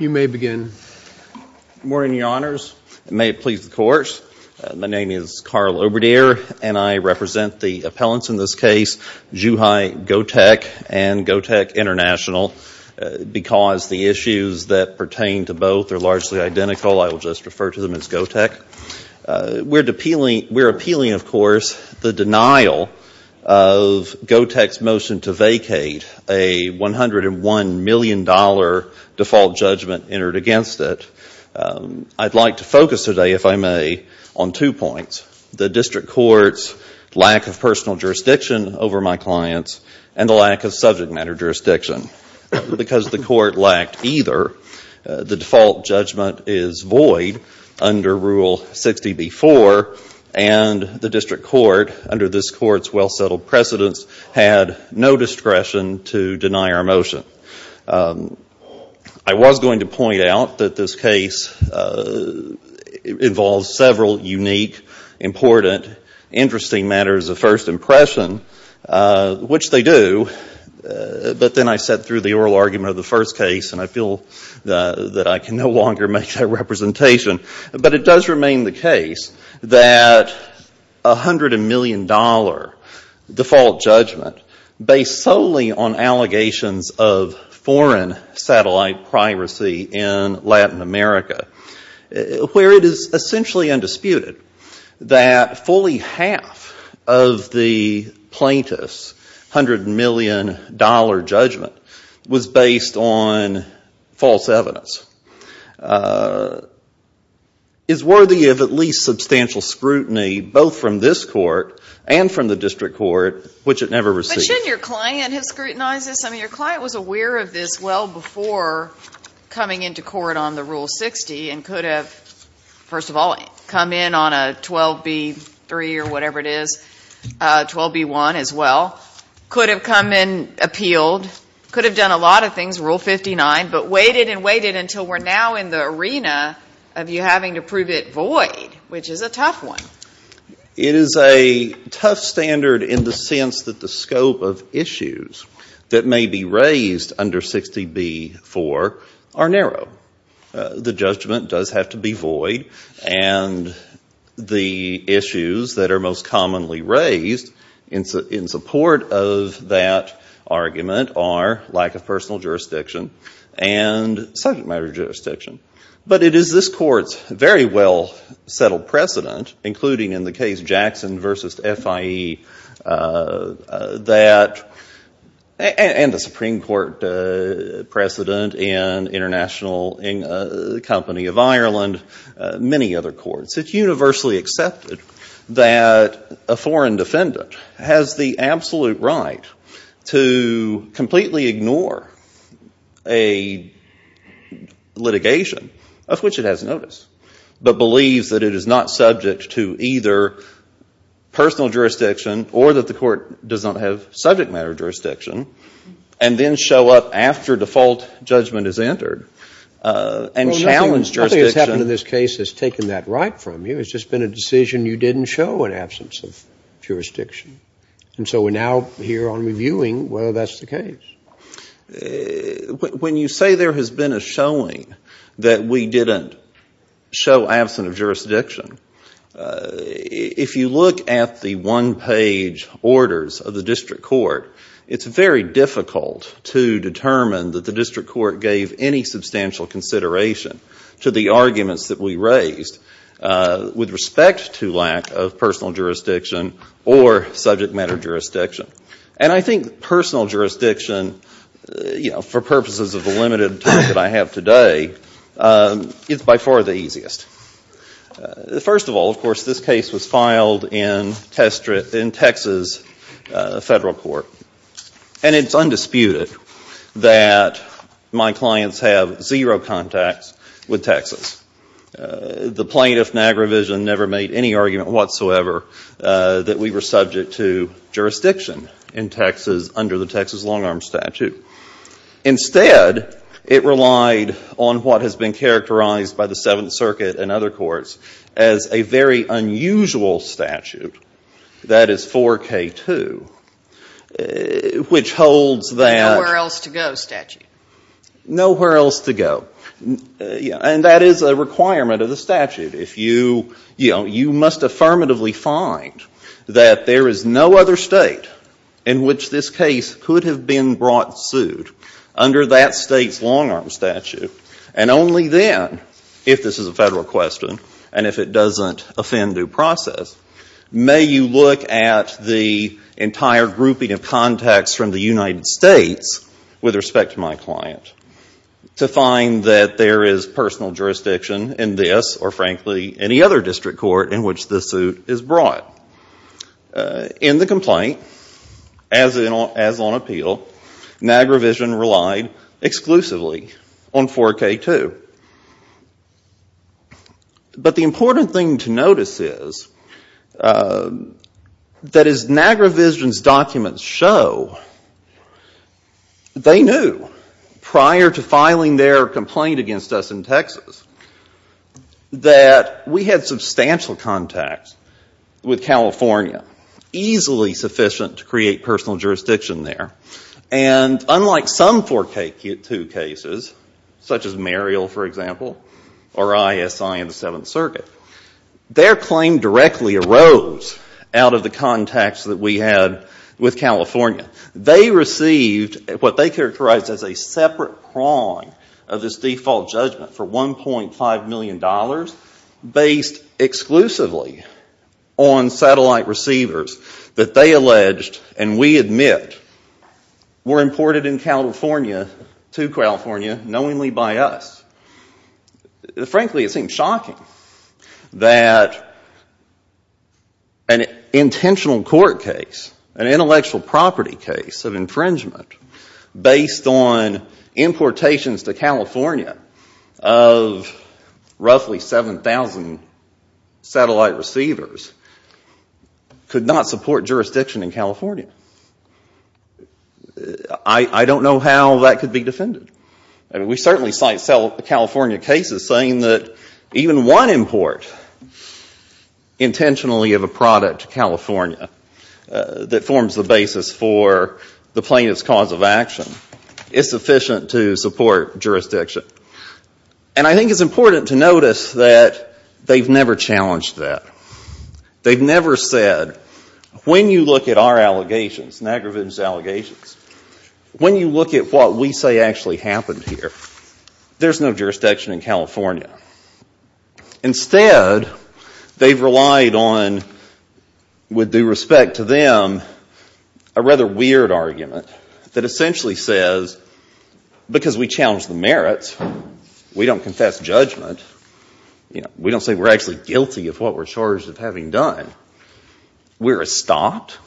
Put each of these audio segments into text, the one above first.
You may begin. Good morning, Your Honors. May it please the Court. My name is Carl Obradier, and I represent the appellants in this case, Zhuhai Gotech and Gotech International, because the issues that pertain to both are largely identical. I will just refer to them as Gotech. We're appealing, of course, the denial of Gotech's motion to vacate a $101 million default judgment entered against it. I'd like to focus today, if I may, on two points. The District Court's lack of personal jurisdiction over my clients and the lack of subject matter jurisdiction. Because the Court lacked either, the default judgment is void under Rule 60b-4, and the District Court, under this Court's well-settled precedence, had no discretion to deny our motion. I was going to point out that this case involves several unique, important, interesting matters of first impression, which they do, but then I set through the oral argument of the first case, and I feel that I can no longer make that representation. But it does remain the case that a $101 million default judgment, based solely on allegations of foreign satellite piracy in Latin America, where it is essentially undisputed that fully of the plaintiff's $100 million judgment was based on false evidence, is worthy of at least substantial scrutiny, both from this Court and from the District Court, which it never received. But shouldn't your client have scrutinized this? I mean, your client was aware of this well before coming into court on the Rule 60 and could have, first of all, come in on a 12b-3 or whatever it is, 12b-1 as well, could have come in, appealed, could have done a lot of things, Rule 59, but waited and waited until we're now in the arena of you having to prove it void, which is a tough one. It is a tough standard in the sense that the and the issues that are most commonly raised in support of that argument are lack of personal jurisdiction and subject matter jurisdiction. But it is this Court's very well-settled precedent, including in the case Jackson v. FIE, and the Supreme Court precedent in the company of Ireland, many other courts, it's universally accepted that a foreign defendant has the absolute right to completely ignore a litigation of which it has notice, but believes that it is not subject to either personal jurisdiction or that the Court does not have subject matter jurisdiction, and then show up after default judgment is entered and challenge jurisdiction. What's happened in this case has taken that right from you. It's just been a decision you didn't show in absence of jurisdiction. And so we're now here on reviewing whether that's the case. When you say there has been a showing that we didn't show absent of jurisdiction, if you look at the one-page orders of the District Court, it's very difficult to determine that the District Court gave any substantial consideration to the arguments that we raised with respect to lack of personal jurisdiction or subject matter jurisdiction. And I think personal jurisdiction, for purposes of the limited time that I have today, is by far the easiest. First of all, of course, this case was filed in Texas Federal Court, and it's undisputed that my clients have zero contacts with Texas. The plaintiff, Nagrovision, never made any argument whatsoever that we were subject to jurisdiction in Texas under the Texas long-arm statute. Instead, it relied on what has been characterized by the Seventh Circuit and other courts as a very unusual statute that is 4K2, which holds that... Nowhere else to go statute. Nowhere else to go. And that is a requirement of the statute. You must affirmatively find that there is no other state in which this case could have been brought suit under that state's federal question. And if it doesn't offend due process, may you look at the entire grouping of contacts from the United States with respect to my client to find that there is personal jurisdiction in this, or frankly, any other District Court in which this suit is brought. In the complaint, as on appeal, Nagrovision relied exclusively on 4K2. But the important thing to notice is that as Nagrovision's documents show, they knew prior to filing their complaint against us in Texas that we had substantial contacts with California, easily sufficient to create personal jurisdiction there. And unlike some 4K2 cases, such as Muriel, for example, or ISI in the Seventh Circuit, their claim directly arose out of the contacts that we had with California. They received what they characterized as a separate crawling of this default judgment for $1.5 million based exclusively on satellite receivers that they alleged, and we admit, were imported in California to California knowingly by us. Frankly, it seems shocking that an intentional court case, an intellectual property case of infringement based on 7,000 satellite receivers, could not support jurisdiction in California. I don't know how that could be defended. We certainly cite California cases saying that even one import intentionally of a product to California that forms the basis for the plaintiff's cause of action is sufficient to support jurisdiction. And I think it's important to notice that they've never challenged that. They've never said, when you look at our allegations, Nagrovision's allegations, when you look at what we say actually happened here, there's no jurisdiction in California. Instead, they've relied on, with due respect to them, a rather weird argument that essentially says, because we challenge the merits, we don't confess judgment, we don't say we're actually guilty of what we're charged of having done, we're stopped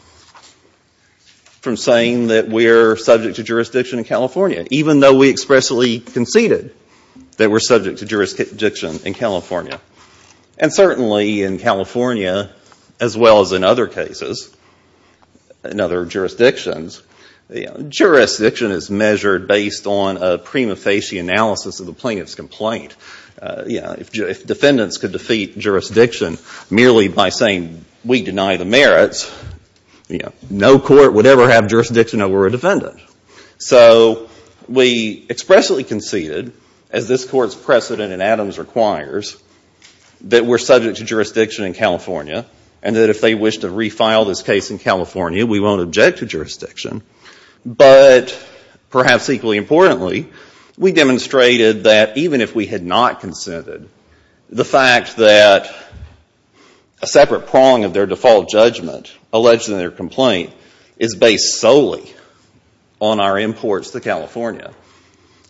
from saying that we're subject to jurisdiction in California, even though we expressly conceded that we're subject to jurisdiction in California. And certainly in California, as well as in other cases, in other jurisdictions, jurisdiction is measured based on a prima facie analysis of the plaintiff's complaint. If defendants could defeat jurisdiction merely by saying, we deny the merits, no court would ever have jurisdiction over a defendant. So we expressly conceded, as this Court's precedent in Adams requires, that we're subject to jurisdiction in California, and that if they wish to refile this case in California, we won't object to jurisdiction. But perhaps equally importantly, we demonstrated that even if we had not conceded, the fact that a separate prong of their default judgment alleged in their complaint is based solely on our imports to California,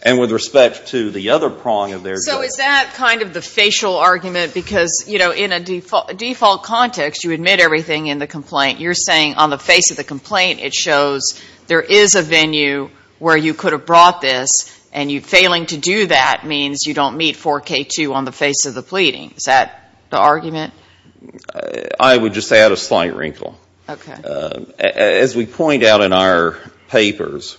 and with respect to the other prong of their judgment. So is that kind of the facial argument, because, you know, in a default context, you admit everything in the complaint. You're saying on the face of the complaint, it shows there is a venue where you could have brought this, and you failing to do that means you don't meet 4K2 on the face of the pleading. Is that the argument? I would just add a slight wrinkle. Okay. As we point out in our papers,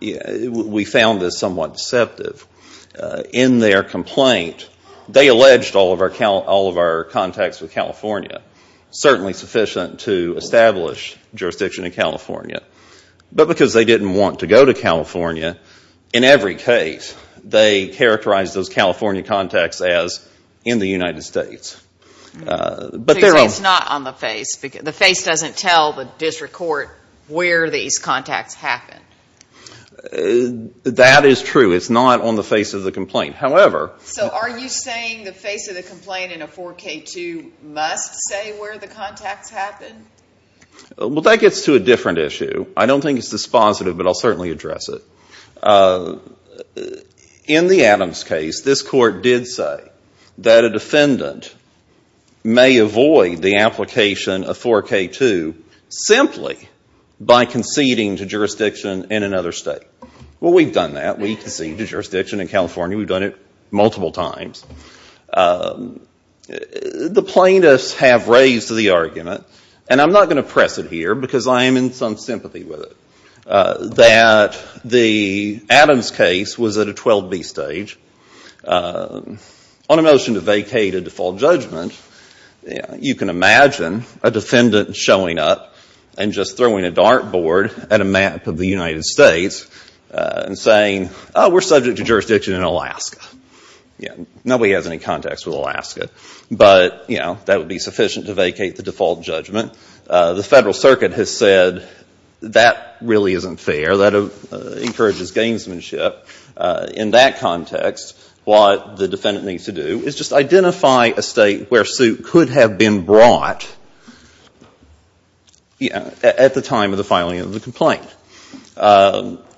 we found this somewhat deceptive. In their complaint, they alleged all of our contacts with California, certainly sufficient to establish jurisdiction in California. But because they didn't want to go to California, in every case, they characterized those California contacts as in the United States. But they're... It's not on the face. The face doesn't tell the district court where these contacts happened. That is true. It's not on the face of the complaint. However... So are you saying the face of the complaint in a 4K2 must say where the contacts happened? Well, that gets to a different issue. I don't think it's dispositive, but I'll certainly address it. In the Adams case, this court did say that a defendant may avoid the application of 4K2 simply by conceding to jurisdiction in another state. Well, we've done that. We've conceded to jurisdiction in California. We've done it multiple times. The plaintiffs have raised the argument, and I'm not going to press it here because I am in some sympathy with it, that the Adams case was at a 12B stage on a motion to judgment. You can imagine a defendant showing up and just throwing a dart board at a map of the United States and saying, oh, we're subject to jurisdiction in Alaska. Nobody has any contacts with Alaska. But, you know, that would be sufficient to vacate the default judgment. The Federal Circuit has said that really isn't fair. That encourages gamesmanship. In that context, what the defendant needs to do is just identify a state where suit could have been brought at the time of the filing of the complaint.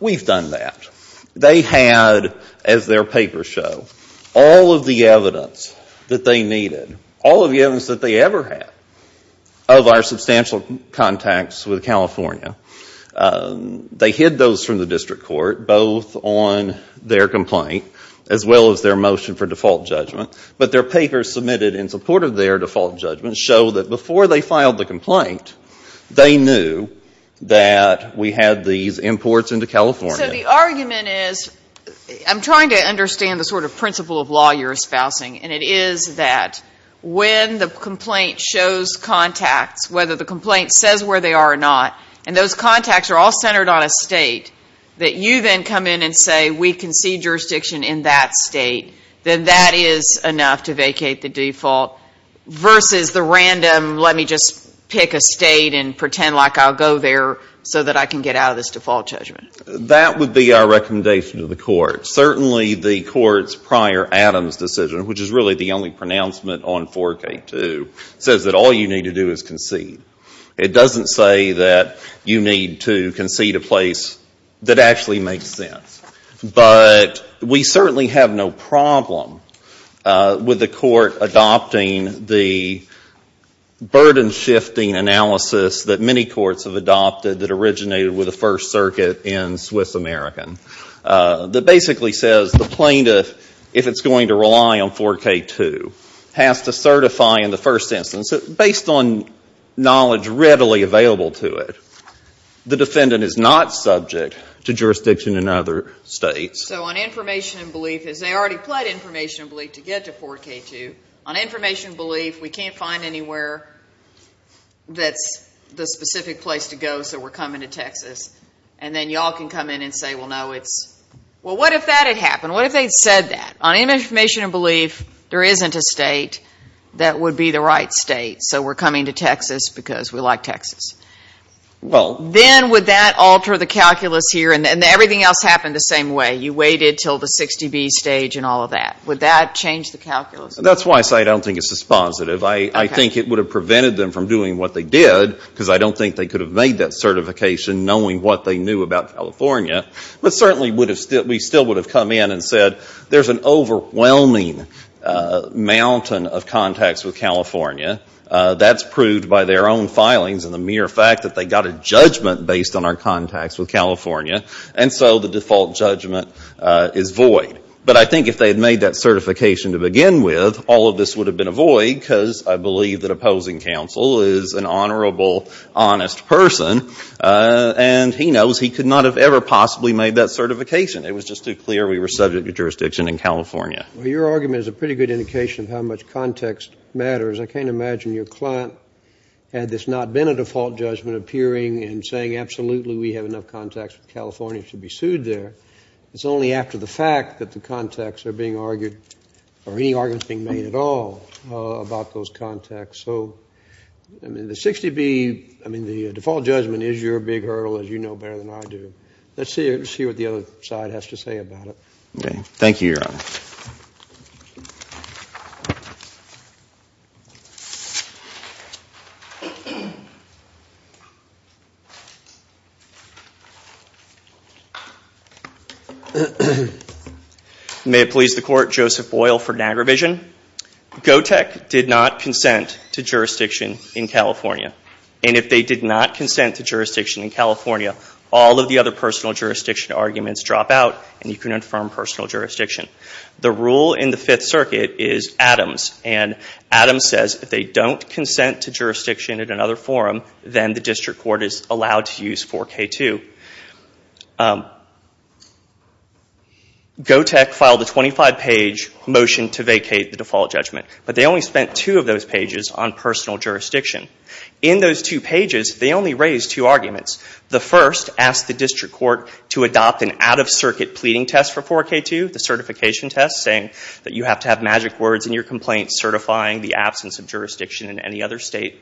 We've done that. They had, as their papers show, all of the evidence that they needed, all of the evidence that they ever had of our their complaint, as well as their motion for default judgment. But their papers submitted in support of their default judgment show that before they filed the complaint, they knew that we had these imports into California. So the argument is, I'm trying to understand the sort of principle of law you're espousing, and it is that when the complaint shows contacts, whether the complaint says where they are or not, and those contacts are all centered on a state, that you then come in and say, we concede jurisdiction in that state, then that is enough to vacate the default versus the random, let me just pick a state and pretend like I'll go there so that I can get out of this default judgment. That would be our recommendation to the court. Certainly the court's prior Adams decision, which is really the only pronouncement on 4K2, says that all you need to do is concede. It doesn't say that you need to concede a place that actually makes sense. But we certainly have no problem with the court adopting the burden-shifting analysis that many courts have adopted that originated with the First Circuit in Swiss American, that basically says the plaintiff, if it's going to rely on 4K2, has to certify in the first instance, based on knowledge readily available to it, the defendant is not subject to jurisdiction in other states. So on information and belief, as they already pled information and belief to get to 4K2, on information and belief, we can't find anywhere that's the specific place to go, so we're coming to Texas. And then y'all can come in and say, well, no, it's, well, what if that had happened? What if they'd said that? On any information and belief, there isn't a state that would be the right state, so we're coming to Texas because we like Texas. Well... Then would that alter the calculus here? And everything else happened the same way. You waited until the 60B stage and all of that. Would that change the calculus? That's why I say I don't think it's dispositive. I think it would have prevented them from doing what they did, because I don't think they could have made that certification knowing what they knew about California. But certainly we still would have come in and said, there's an overwhelming mountain of contacts with California. That's proved by their own filings and the mere fact that they got a judgment based on our contacts with California, and so the default judgment is void. But I think if they had made that certification to begin with, all of this would have been a void, because I believe that opposing counsel is an honorable, honest person, and he knows he could not have ever possibly made that certification. It was just too clear we were subject to jurisdiction in California. Well, your argument is a pretty good indication of how much context matters. I can't imagine your client, had this not been a default judgment, appearing and saying, absolutely, we have enough contacts with California to be sued there. It's only after the fact that the contacts are being argued, or any argument being made at all, about those contacts. So, I mean, the 60B, I mean, the default judgment is your big hurdle, as you know better than I do. Let's see what the other side has to say about it. Okay. Thank you, Your Honor. May it please the Court, Joseph Boyle for Niagara Vision. Gotek did not consent to jurisdiction in California, and if they did not consent to jurisdiction in California, all of the other personal jurisdiction arguments drop out, and you can infirm personal jurisdiction. The rule in the Fifth Circuit is Adams, and Adams says if they don't consent to jurisdiction at another forum, then the district court is allowed to use 4K2. Gotek filed a 25-page motion to vacate the default judgment, but they only spent two of those pages on personal jurisdiction. In those two pages, they only raised two arguments. The first asked the district court to adopt an out-of-circuit pleading test for 4K2, the certification test, saying that you have to have magic words in your complaint certifying the absence of jurisdiction in any other state.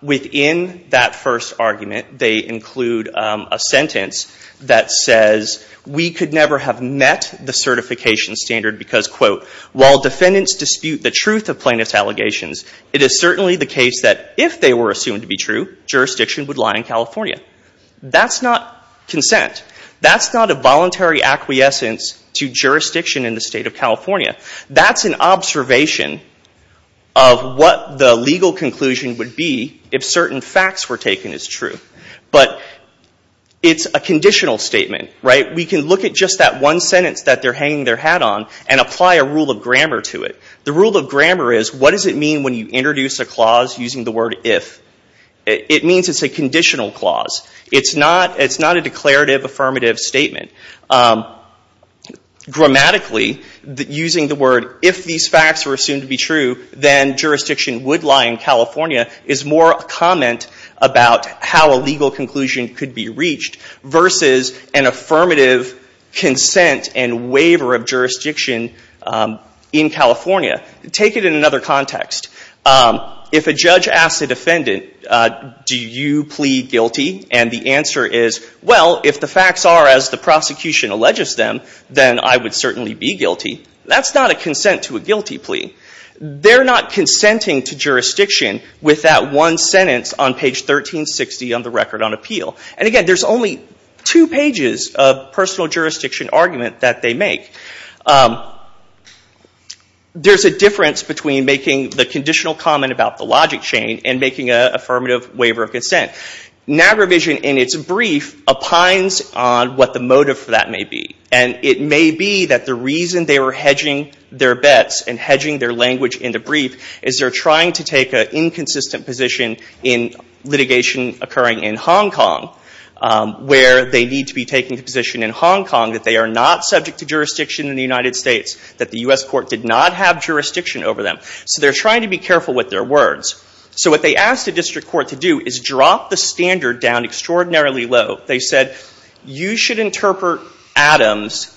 Within that first argument, they include a sentence that says, we could never have met the certification standard because, quote, while defendants dispute the truth of plaintiff's allegations, it is certainly the case that if they were assumed to be true, jurisdiction would lie in California. That's not consent. That's not a voluntary acquiescence to jurisdiction in the state of California. That's an observation of what the legal conclusion would be if certain facts were taken as true. But it's a conditional statement. We can look at just that one sentence that they're hanging their hat on and apply a rule of grammar to it. The rule of grammar is, what does it mean when you introduce a clause using the word if? It means it's a conditional clause. It's not a declarative affirmative statement. Grammatically, using the word, if these facts were assumed to be true, then jurisdiction would lie in California is more a comment about how a legal conclusion could be reached versus an affirmative consent and waiver of jurisdiction in California. Take it in another context. If a judge asks a defendant, do you plead guilty? And the answer is, well, if the facts are as the prosecution alleges them, then I would certainly be guilty. That's not a consent to a guilty plea. They're not consenting to jurisdiction with that one sentence on page 1360 on the record on appeal. And again, there's only two pages of personal between making the conditional comment about the logic chain and making an affirmative waiver of consent. NAGRAvision, in its brief, opines on what the motive for that may be. And it may be that the reason they were hedging their bets and hedging their language in the brief is they're trying to take an inconsistent position in litigation occurring in Hong Kong, where they need to be taking the position in Hong Kong that they are not subject to jurisdiction in the United States. So they're trying to be careful with their words. So what they asked the district court to do is drop the standard down extraordinarily low. They said, you should actually interpret the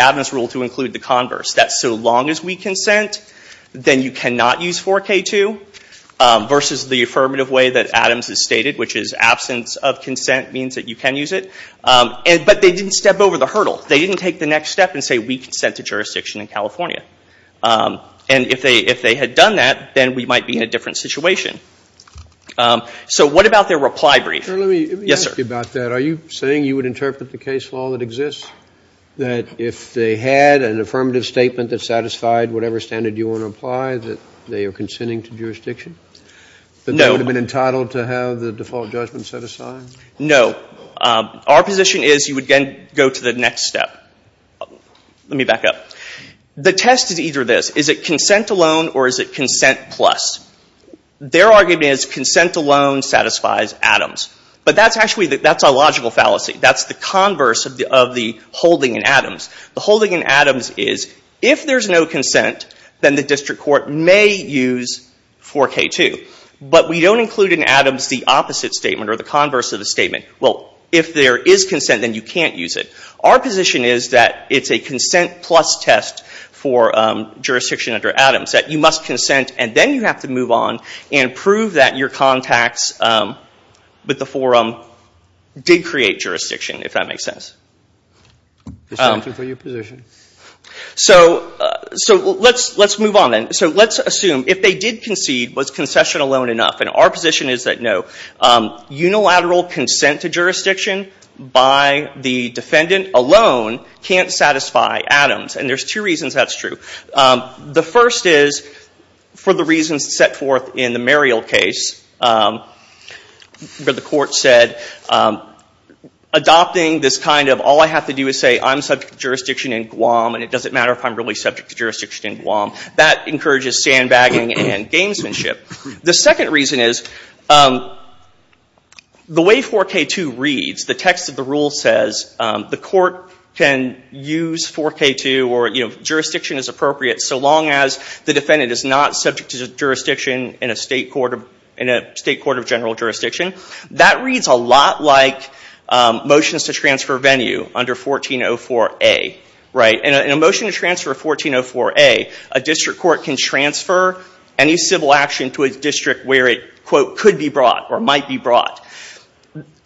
Adams rule to include the converse, that so long as we consent, then you cannot use 4K2, versus the affirmative way that Adams has stated, which is absence of consent means that you can use it. But they didn't step over the hurdle. They didn't take the next step and say, we consent to jurisdiction in California. And if they had done that, then we might be in a different situation. So what about their reply brief? JUSTICE SCALIA. Let me ask you about that. Are you saying you would interpret the case law that exists, that if they had an affirmative statement that satisfied whatever standard you want to apply, that they are consenting to jurisdiction? That they would have been entitled to have the default judgment set aside? No. Our position is you would then go to the next step. Let me back up. The test is either this. Is it consent alone or is it consent plus? Their argument is consent alone satisfies Adams. But that's actually a logical fallacy. That's the converse of the holding in Adams. The holding in Adams is if there's no consent, then the district court may use 4K2. But we don't include in Adams the opposite statement or the converse of the statement. Well, if there is consent, then you can't use it. Our position is that it's a consent plus test for jurisdiction under Adams. That you must consent and then you have to move on and prove that your contacts with the forum did create jurisdiction, if that makes sense. So let's move on then. So let's assume if they did unilateral consent to jurisdiction by the defendant alone can't satisfy Adams. And there's two reasons that's true. The first is for the reasons set forth in the Muriel case where the court said adopting this kind of all I have to do is say I'm subject to jurisdiction in Guam and it doesn't matter if I'm really subject to jurisdiction in Guam. That encourages sandbagging and gamesmanship. The second reason is the way 4K2 reads, the text of the rule says the court can use 4K2 or jurisdiction is appropriate so long as the defendant is not subject to jurisdiction in a state court of general jurisdiction. That reads a lot like motions to transfer venue under 1404A. In a motion to transfer 1404A, a district court can transfer any civil action to a district where it could be brought or might be brought.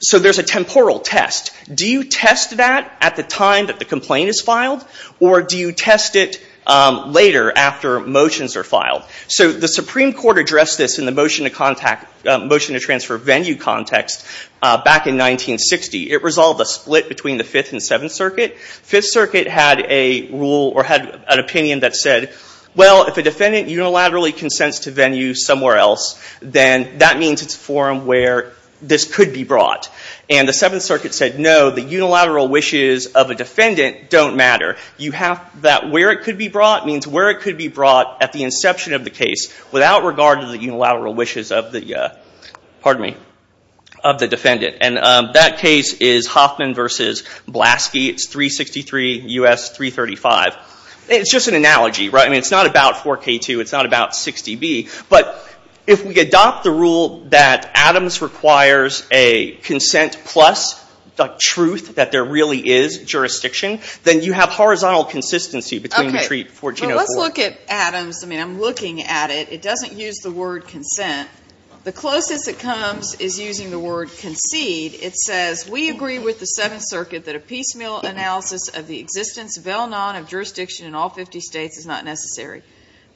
So there's a temporal test. Do you test that at the time that the complaint is filed or do you test it later after motions are filed? So the Supreme Court addressed this in the motion to transfer venue context back in 1960. It resolved a split between the Fifth and Seventh Circuit. Fifth Circuit had an opinion that said, well, if a defendant unilaterally consents to venue somewhere else, then that means it's a forum where this could be brought. And the Seventh Circuit said, no, the unilateral wishes of a defendant don't matter. You have that where it could be brought means where it could be brought at the inception of the case without regard to the unilateral wishes of the defendant. And that case is Blaski. It's 363 U.S. 335. It's just an analogy, right? I mean, it's not about 4K2. It's not about 60B. But if we adopt the rule that Adams requires a consent plus the truth that there really is jurisdiction, then you have horizontal consistency between retreat 1404. Okay. Well, let's look at Adams. I mean, I'm looking at it. It doesn't use the word consent. The closest it comes is using the word concede. It says, we agree with the Seventh Circuit that a piecemeal analysis of the existence of jurisdiction in all 50 states is not necessary.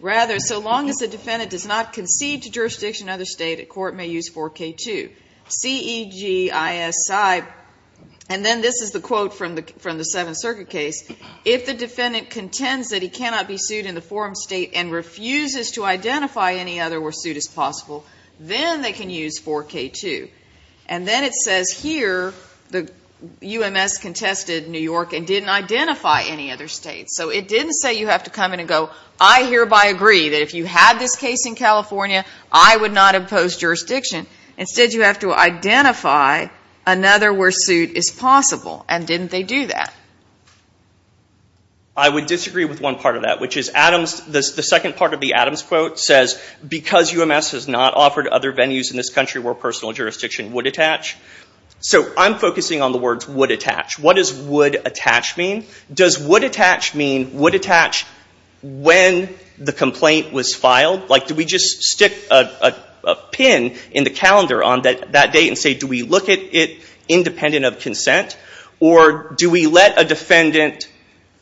Rather, so long as the defendant does not concede to jurisdiction in other states, the court may use 4K2. C-E-G-I-S-I. And then this is the quote from the Seventh Circuit case. If the defendant contends that he cannot be sued in the forum state and refuses to identify any other where suit is possible, then they can use 4K2. And then it says here, the UMS contested New York and didn't identify any other states. So it didn't say you have to come in and go, I hereby agree that if you had this case in California, I would not impose jurisdiction. Instead, you have to identify another where suit is possible. And didn't they do that? I would disagree with one part of that, which is Adams, the second part of the Adams quote says, because UMS has not offered other venues in this country where personal jurisdiction would attach. So I'm focusing on the words would attach. What does would attach mean? Does would attach mean would attach when the complaint was filed? Like, do we just stick a pin in the calendar on that date and say, do we look at it independent of consent? Or do we let a defendant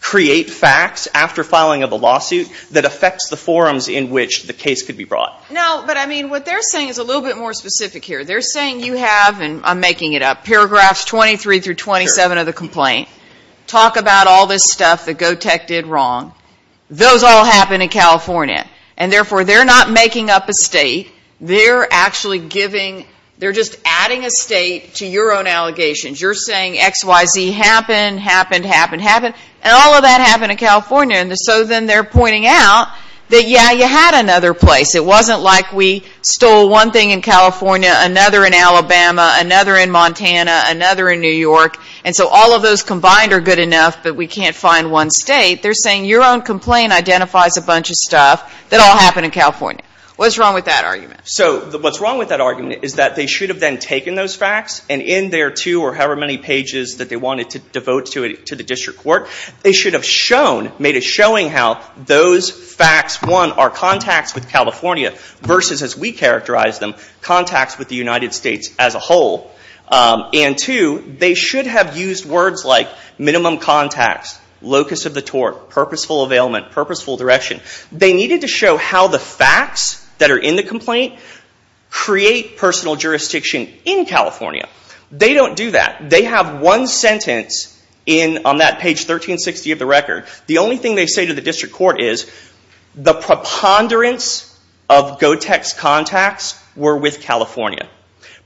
create facts after filing of a lawsuit that affects the forums in which the case could be brought? No, but I mean, what they're saying is a little bit more specific here. They're saying you have, and I'm making it up, paragraphs 23 through 27 of the complaint, talk about all this stuff that GO-TEC did wrong. Those all happened in California. And therefore, they're not making up a state. They're actually giving, they're just adding a state to your own allegations. You're saying XYZ happened, happened, happened, happened. And all of that happened in California. And so then they're pointing out that, yeah, you had another place. It wasn't like we stole one thing in California, another in Alabama, another in Montana, another in New York. And so all of those combined are good enough, but we can't find one state. They're saying your own complaint identifies a bunch of stuff that all happened in California. What's wrong with that argument? So what's wrong with that argument is that they should have then taken those facts and in their two or however many pages that they wanted to devote to the district court, they should have shown, made a showing how those facts, one, are contacts with California versus, as we characterize them, contacts with the United States as a whole. And two, they should have used words like minimum contacts, locus of the tort, purposeful availment, purposeful direction. They needed to show how the facts that are in the complaint create personal jurisdiction in California. They don't do that. They have one sentence on that page 1360 of the record. The only thing they say to the district court is the preponderance of GoTex contacts were with California.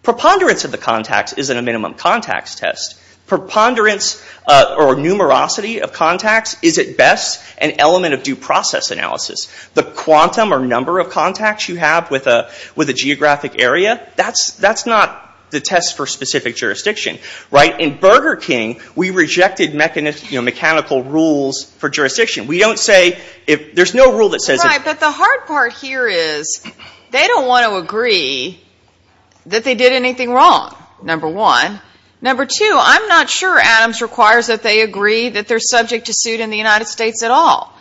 Preponderance of the contacts isn't a minimum contacts test. Preponderance or numerosity of contacts is at best an element of due process analysis. The quantum or number of contacts you have with a geographic area, that's not the test for specific jurisdiction, right? In Burger King, we rejected mechanical rules for jurisdiction. We don't say, there's no rule that says... Right, but the hard part here is they don't want to agree that they did anything wrong, number one. Number two, I'm not sure Adams requires that they agree that they're subject to suit in the United States at all.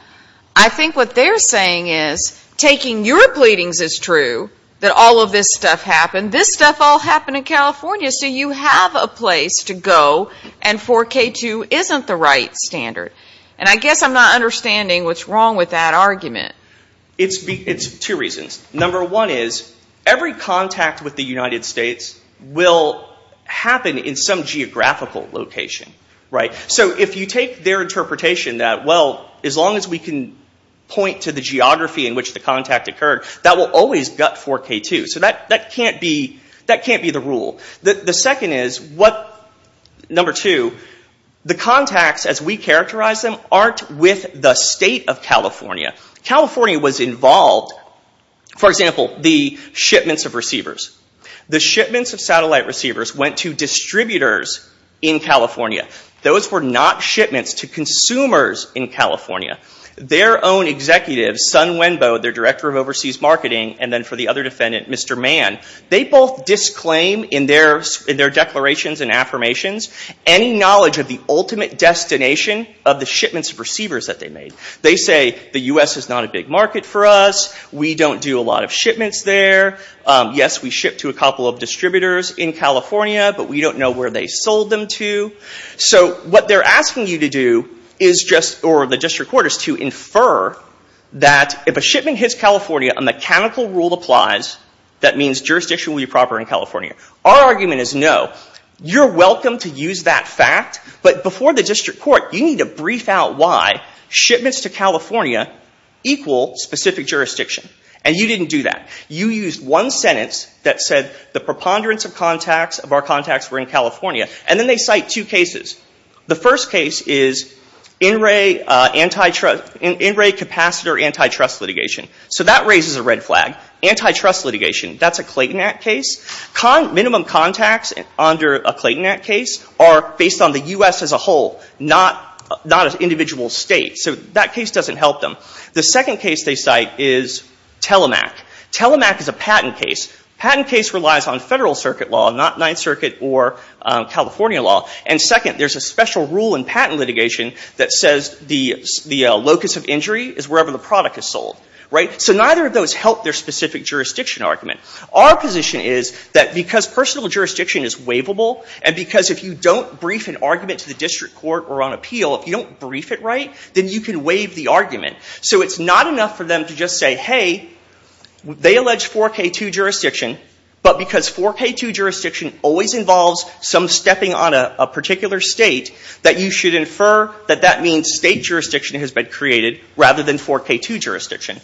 I think what they're saying is, taking your pleadings as true, that all of this stuff happened, this stuff all happened in California, so you have a place to go and 4K2 isn't the right standard. And I guess I'm not understanding what's wrong with that argument. It's two reasons. Number one is, every contact with the United States will happen in some interpretation that, well, as long as we can point to the geography in which the contact occurred, that will always gut 4K2. So that can't be the rule. The second is, number two, the contacts as we characterize them aren't with the state of California. California was involved, for example, the shipments of receivers. The shipments of satellite receivers went to distributors in California. Those were not shipments to consumers in California. Their own executives, Sun Wenbo, their director of overseas marketing, and then for the other defendant, Mr. Mann, they both disclaim in their declarations and affirmations any knowledge of the ultimate destination of the shipments of receivers that they made. They say, the U.S. is not a big market for us, we don't do a lot of distributors in California, but we don't know where they sold them to. So what they're asking you to do is just, or the district court is to infer that if a shipment hits California, a mechanical rule applies, that means jurisdiction will be proper in California. Our argument is no. You're welcome to use that fact, but before the district court, you need to brief out why shipments to California equal specific jurisdiction. And you didn't do that. You used one sentence that said the preponderance of our contacts were in California, and then they cite two cases. The first case is in-ray capacitor antitrust litigation. So that raises a red flag. Antitrust litigation, that's a Clayton Act case. Minimum contacts under a Clayton Act case are based on the U.S. as a whole, not an individual state. So that case doesn't help them. The second case they cite is Telemac. Telemac is a patent case. A patent case relies on federal circuit law, not Ninth Circuit or California law. And second, there's a special rule in patent litigation that says the locus of injury is wherever the product is sold. So neither of those help their specific jurisdiction argument. Our position is that because personal jurisdiction is waivable, and because if you don't brief an argument to the district court or on appeal, if you don't brief it right, then you can waive the argument. So it's not enough for them to just say, hey, they allege 4K2 jurisdiction, but because 4K2 jurisdiction always involves some stepping on a particular state, that you should infer that that means state jurisdiction has been created, rather than 4K2 jurisdiction.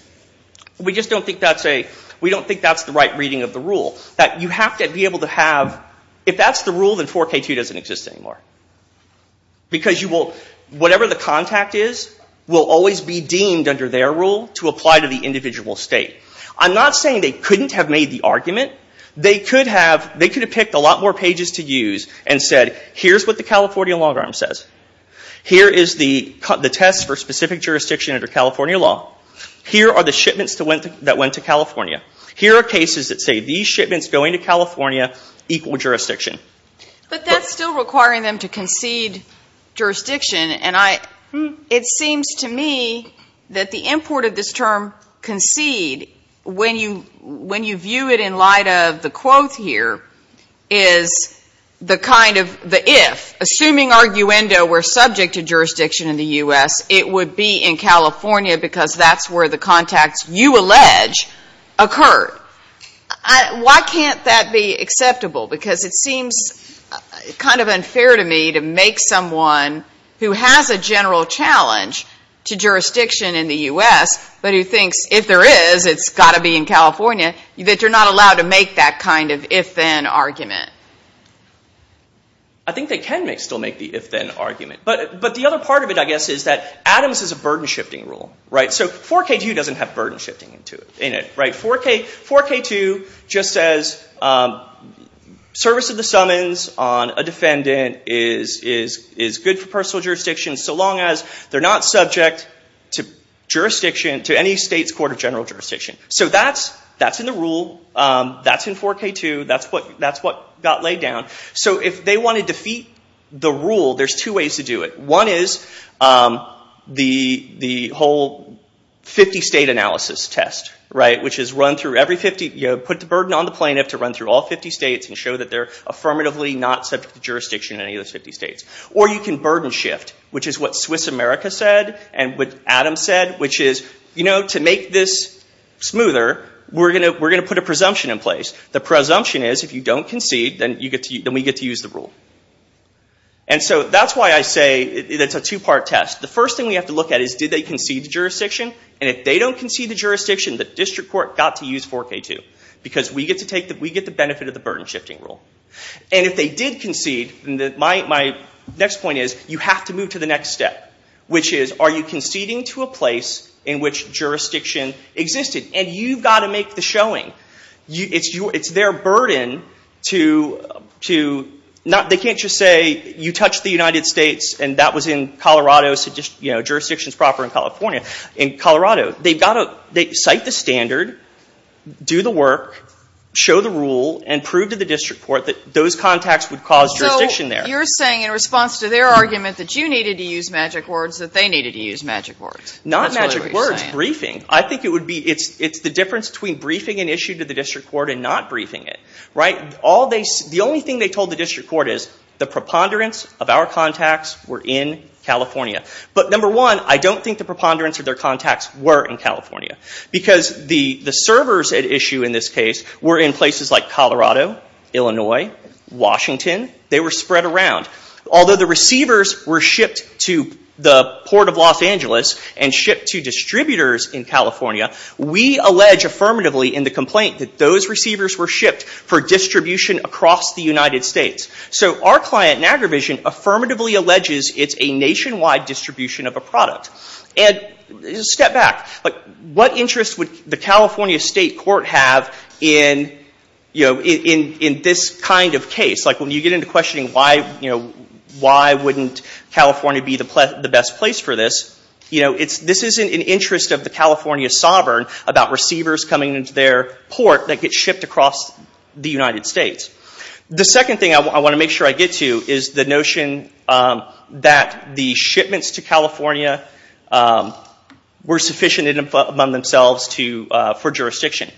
We just don't think that's the right reading of the rule. That you have to be able to have, if that's the rule, then 4K2 doesn't exist anymore. Because you will, whatever the contact is will always be deemed under their rule to apply to the individual state. I'm not saying they couldn't have made the argument. They could have picked a lot more pages to use and said, here's what the California long arm says. Here is the test for specific jurisdiction under California law. Here are the shipments that went to California. Here are cases that say, these shipments going to California equal jurisdiction. But that's still requiring them to concede jurisdiction. It seems to me that the import of this term, concede, when you view it in light of the quote here, is the kind of the if. Assuming Arguendo were subject to jurisdiction in the U.S., it would be in California because that's where the contacts you allege occur. Why can't that be acceptable? Because it seems kind of unfair to me to make someone who has a general challenge to jurisdiction in the U.S., but who thinks if there is, it's got to be in California, that you're not allowed to make that kind of if-then argument. I think they can still make the if-then argument. But the other part of it, I guess, is that 4K2 doesn't have burden shifting in it. 4K2 just says, service of the summons on a defendant is good for personal jurisdiction so long as they're not subject to jurisdiction, to any state's court of general jurisdiction. So that's in the rule. That's in 4K2. That's what got laid down. So if they want to defeat the rule, there's two ways to do it. One is the whole 50-state analysis test, which is run through every 50, put the burden on the plaintiff to run through all 50 states and show that they're affirmatively not subject to jurisdiction in any of those 50 states. Or you can burden shift, which is what Swiss America said and what Adam said, which is, to make this smoother, we're going to put a presumption in place. The presumption is, if you don't concede, then we get to use the rule. And so that's why I say it's a two-part test. The first thing we have to look at is, did they concede the jurisdiction? And if they don't concede the jurisdiction, the district court got to use 4K2. Because we get the benefit of the burden shifting rule. And if they did concede, my next point is, you have to move to the next step, which is, are you conceding to a place in which jurisdiction existed? And you've got to make the showing. It's their burden to, they can't just say, you touched the United States and that was in Colorado, so jurisdiction is proper in California. In Colorado, they've got to cite the standard, do the work, show the rule, and prove to the district court that those contacts would cause jurisdiction there. So you're saying, in response to their argument that you needed to use magic words, that they needed to use magic words? Not magic words. Briefing. I think it would be, it's the difference between briefing an issue to the district court and not briefing it. The only thing they told the district court is, the preponderance of our contacts were in California. But number one, I don't think the preponderance of their contacts were in California. Because the servers at issue in this case were in places like Colorado, Illinois, Washington. They were spread around. Although the receivers were shipped to the port of Los Angeles and shipped to distributors in California, we allege affirmatively in the complaint that those receivers were shipped for distribution across the United States. So our client, Niagara Vision, affirmatively alleges it's a nationwide distribution of a product. And step back. What interest would the California State Court have in, you know, in this kind of case? Like when you get into questioning why, you know, why wouldn't California be the best place for this? You know, this isn't an interest of the California sovereign about receivers coming into their port that get shipped across the United States. The second thing I want to make sure I get to is the notion that the shipments to California were sufficient among themselves for jurisdiction.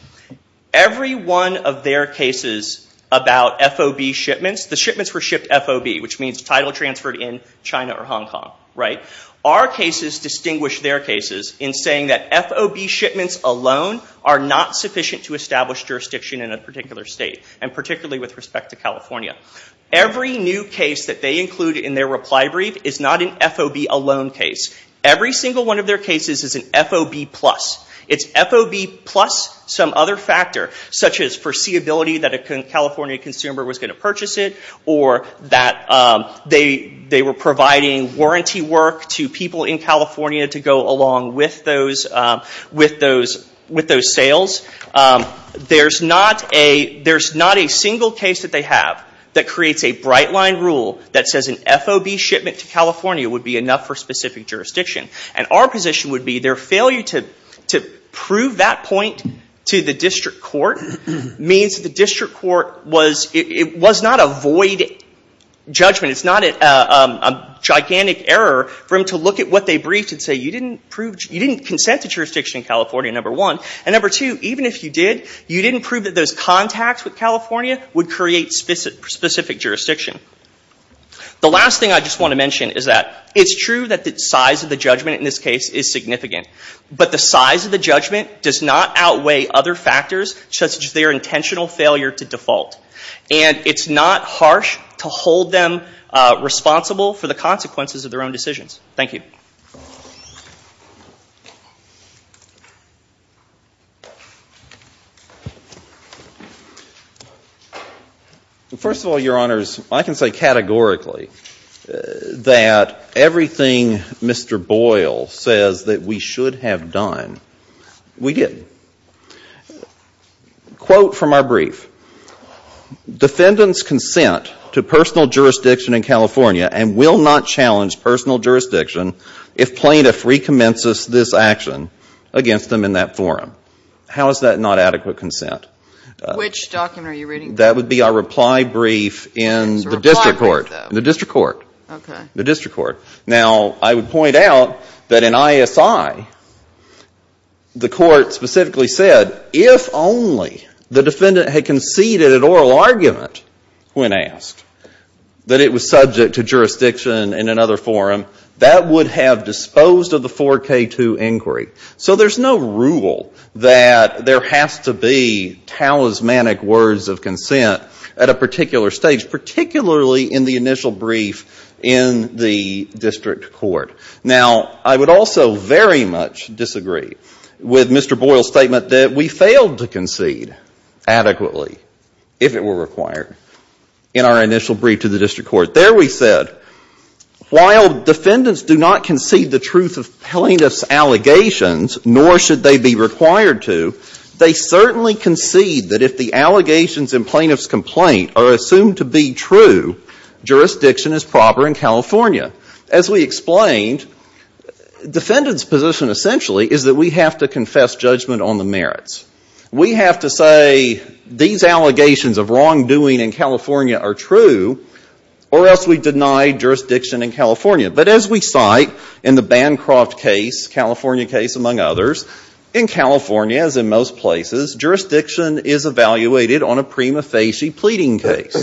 Every one of their cases about FOB shipments, the shipments were shipped FOB, which means title transferred in China or Hong Kong, right? Our cases distinguish their cases in saying that FOB shipments alone are not sufficient to establish jurisdiction in a particular state, and particularly with respect to California. Every new case that they include in their reply brief is not an FOB alone case. Every single one of their cases is an FOB plus. It's FOB plus some other factor, such as foreseeability that a California consumer was going to purchase it, or that they were providing warranty work to people in California to go along with those sales. There's not a single case that they have that creates a bright line rule that says an FOB shipment to California would be enough for specific jurisdiction. And our position would be their failure to prove that point to the district court means that the district court was not a void judgment. It's not a gigantic error for them to look at what they briefed and say, you didn't consent to jurisdiction in California, number one. And number two, even if you did, you didn't prove that those contacts with California would create specific jurisdiction. The last thing I just want to mention is that it's true that the size of the judgment in this case is significant. But the size of the judgment does not outweigh other factors, such as their intentional failure to default. And it's not harsh to hold them responsible for the consequences of their own decisions. Thank you. First of all, Your Honors, I can say categorically that everything Mr. Boyle says that we should have done, we didn't. Quote from our brief, defendant's consent to personal jurisdiction in California and will not challenge personal jurisdiction if plaintiff recommences this action against them in that forum. How is that not adequate consent? Which document are you reading? That would be our reply brief in the district court. It's a reply brief, though. The district court. Okay. The district court. Now, I would point out that in ISI, the court specifically said, if only the defendant had conceded an oral argument when asked that it was subject to jurisdiction in another forum, that would have disposed of the 4K2 inquiry. So there's no rule that there has to be talismanic words of consent at a particular stage, particularly in the initial brief in the district court. Now, I would also very much disagree with Mr. Boyle's statement that we failed to concede adequately if it were required in our initial brief to the district court. There we said, while defendants do not concede the truth of plaintiff's allegations, nor should they be required to, they certainly concede that if the allegations in plaintiff's complaint are assumed to be true, jurisdiction is proper in California. As we explained, defendant's position essentially is that we have to confess judgment on the merits. We have to say these allegations of wrongdoing in California are true, or else we deny jurisdiction in California. But as we cite in the Bancroft case, California case among others, in California, as in most places, jurisdiction is evaluated on a prima facie pleading case.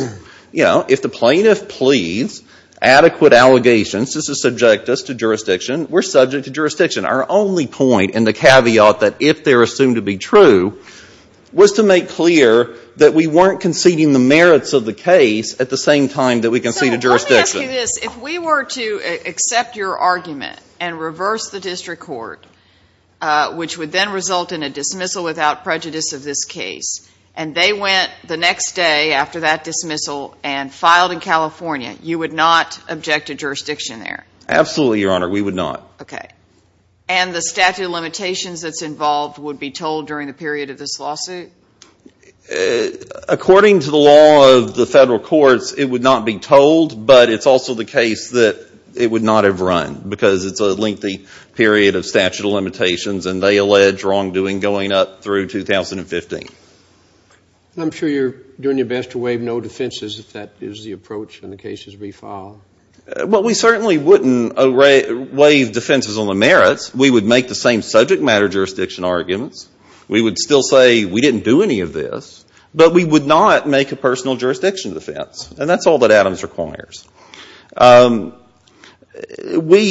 You know, if the plaintiff pleads adequate allegations to subject us to jurisdiction, we're subject to jurisdiction. Our only point and the caveat that if they are assumed to be true was to make clear that we weren't conceding the merits of the case at the same time that we conceded jurisdiction. So let me ask you this. If we were to accept your argument and reverse the district court, which would then result in a dismissal without prejudice of this case, and they went the next day after that dismissal and filed in California, you would not object to jurisdiction there? Absolutely, Your Honor. We would not. Okay. And the statute of limitations that's involved would be told during the period of this lawsuit? According to the law of the Federal courts, it would not be told, but it's also the case that it would not have run, because it's a lengthy period of statute of limitations and they allege wrongdoing going up through 2015. I'm sure you're doing your best to waive no defenses if that is the approach and the case is re-filed. Well, we certainly wouldn't waive defenses on the merits. We would make the same subject matter jurisdiction arguments. We would still say we didn't do any of this, but we would not make a personal jurisdiction defense. And that's all that Adams requires. We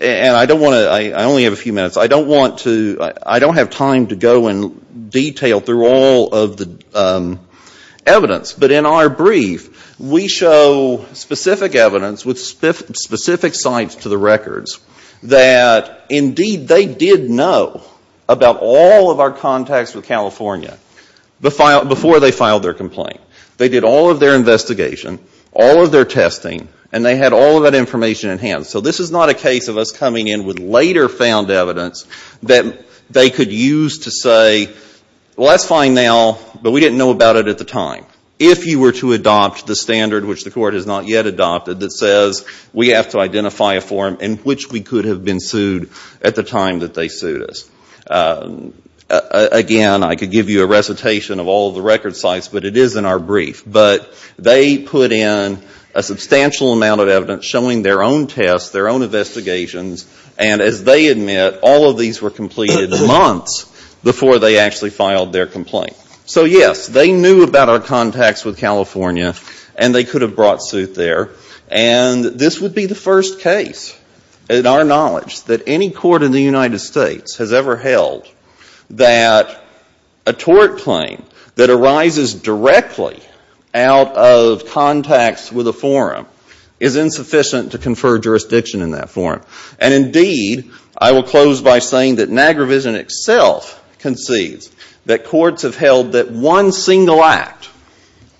— and I don't want to — I only have a few minutes. I don't want to — I don't have time to go in detail through all of the evidence. But in our brief, we show specific evidence with specific sites to the records that, indeed, they did know about all of our contacts with California before they filed their complaint. They did all of their investigation, all of their testing, and they had all of that information at hand. So this is not a case of us coming in with later found evidence that they could use to say, well, that's fine now, but we didn't know about it at the time. If you were to adopt the standard, which the court has not yet adopted, that says we have to identify a form in which we could have been sued at the time that they sued us. Again, I could give you a recitation of all of the record sites, but it is in our brief. But they put in a substantial amount of evidence showing their own tests, their own investigations, and as they admit, all of these were completed months before they actually filed their complaint. So yes, they knew about our contacts with California, and they could have brought suit there. And this would be the first case, in our knowledge, that any court in the United States out of contacts with a forum is insufficient to confer jurisdiction in that forum. And indeed, I will close by saying that Niagara Vision itself concedes that courts have held that one single act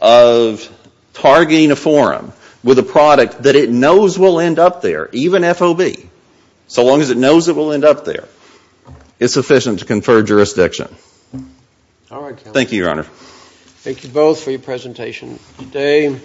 of targeting a forum with a product that it knows will end up there, even FOB, so long as it knows it will end up there, is sufficient to confer jurisdiction. Thank you, Your Honor. Thank you both for your presentation today.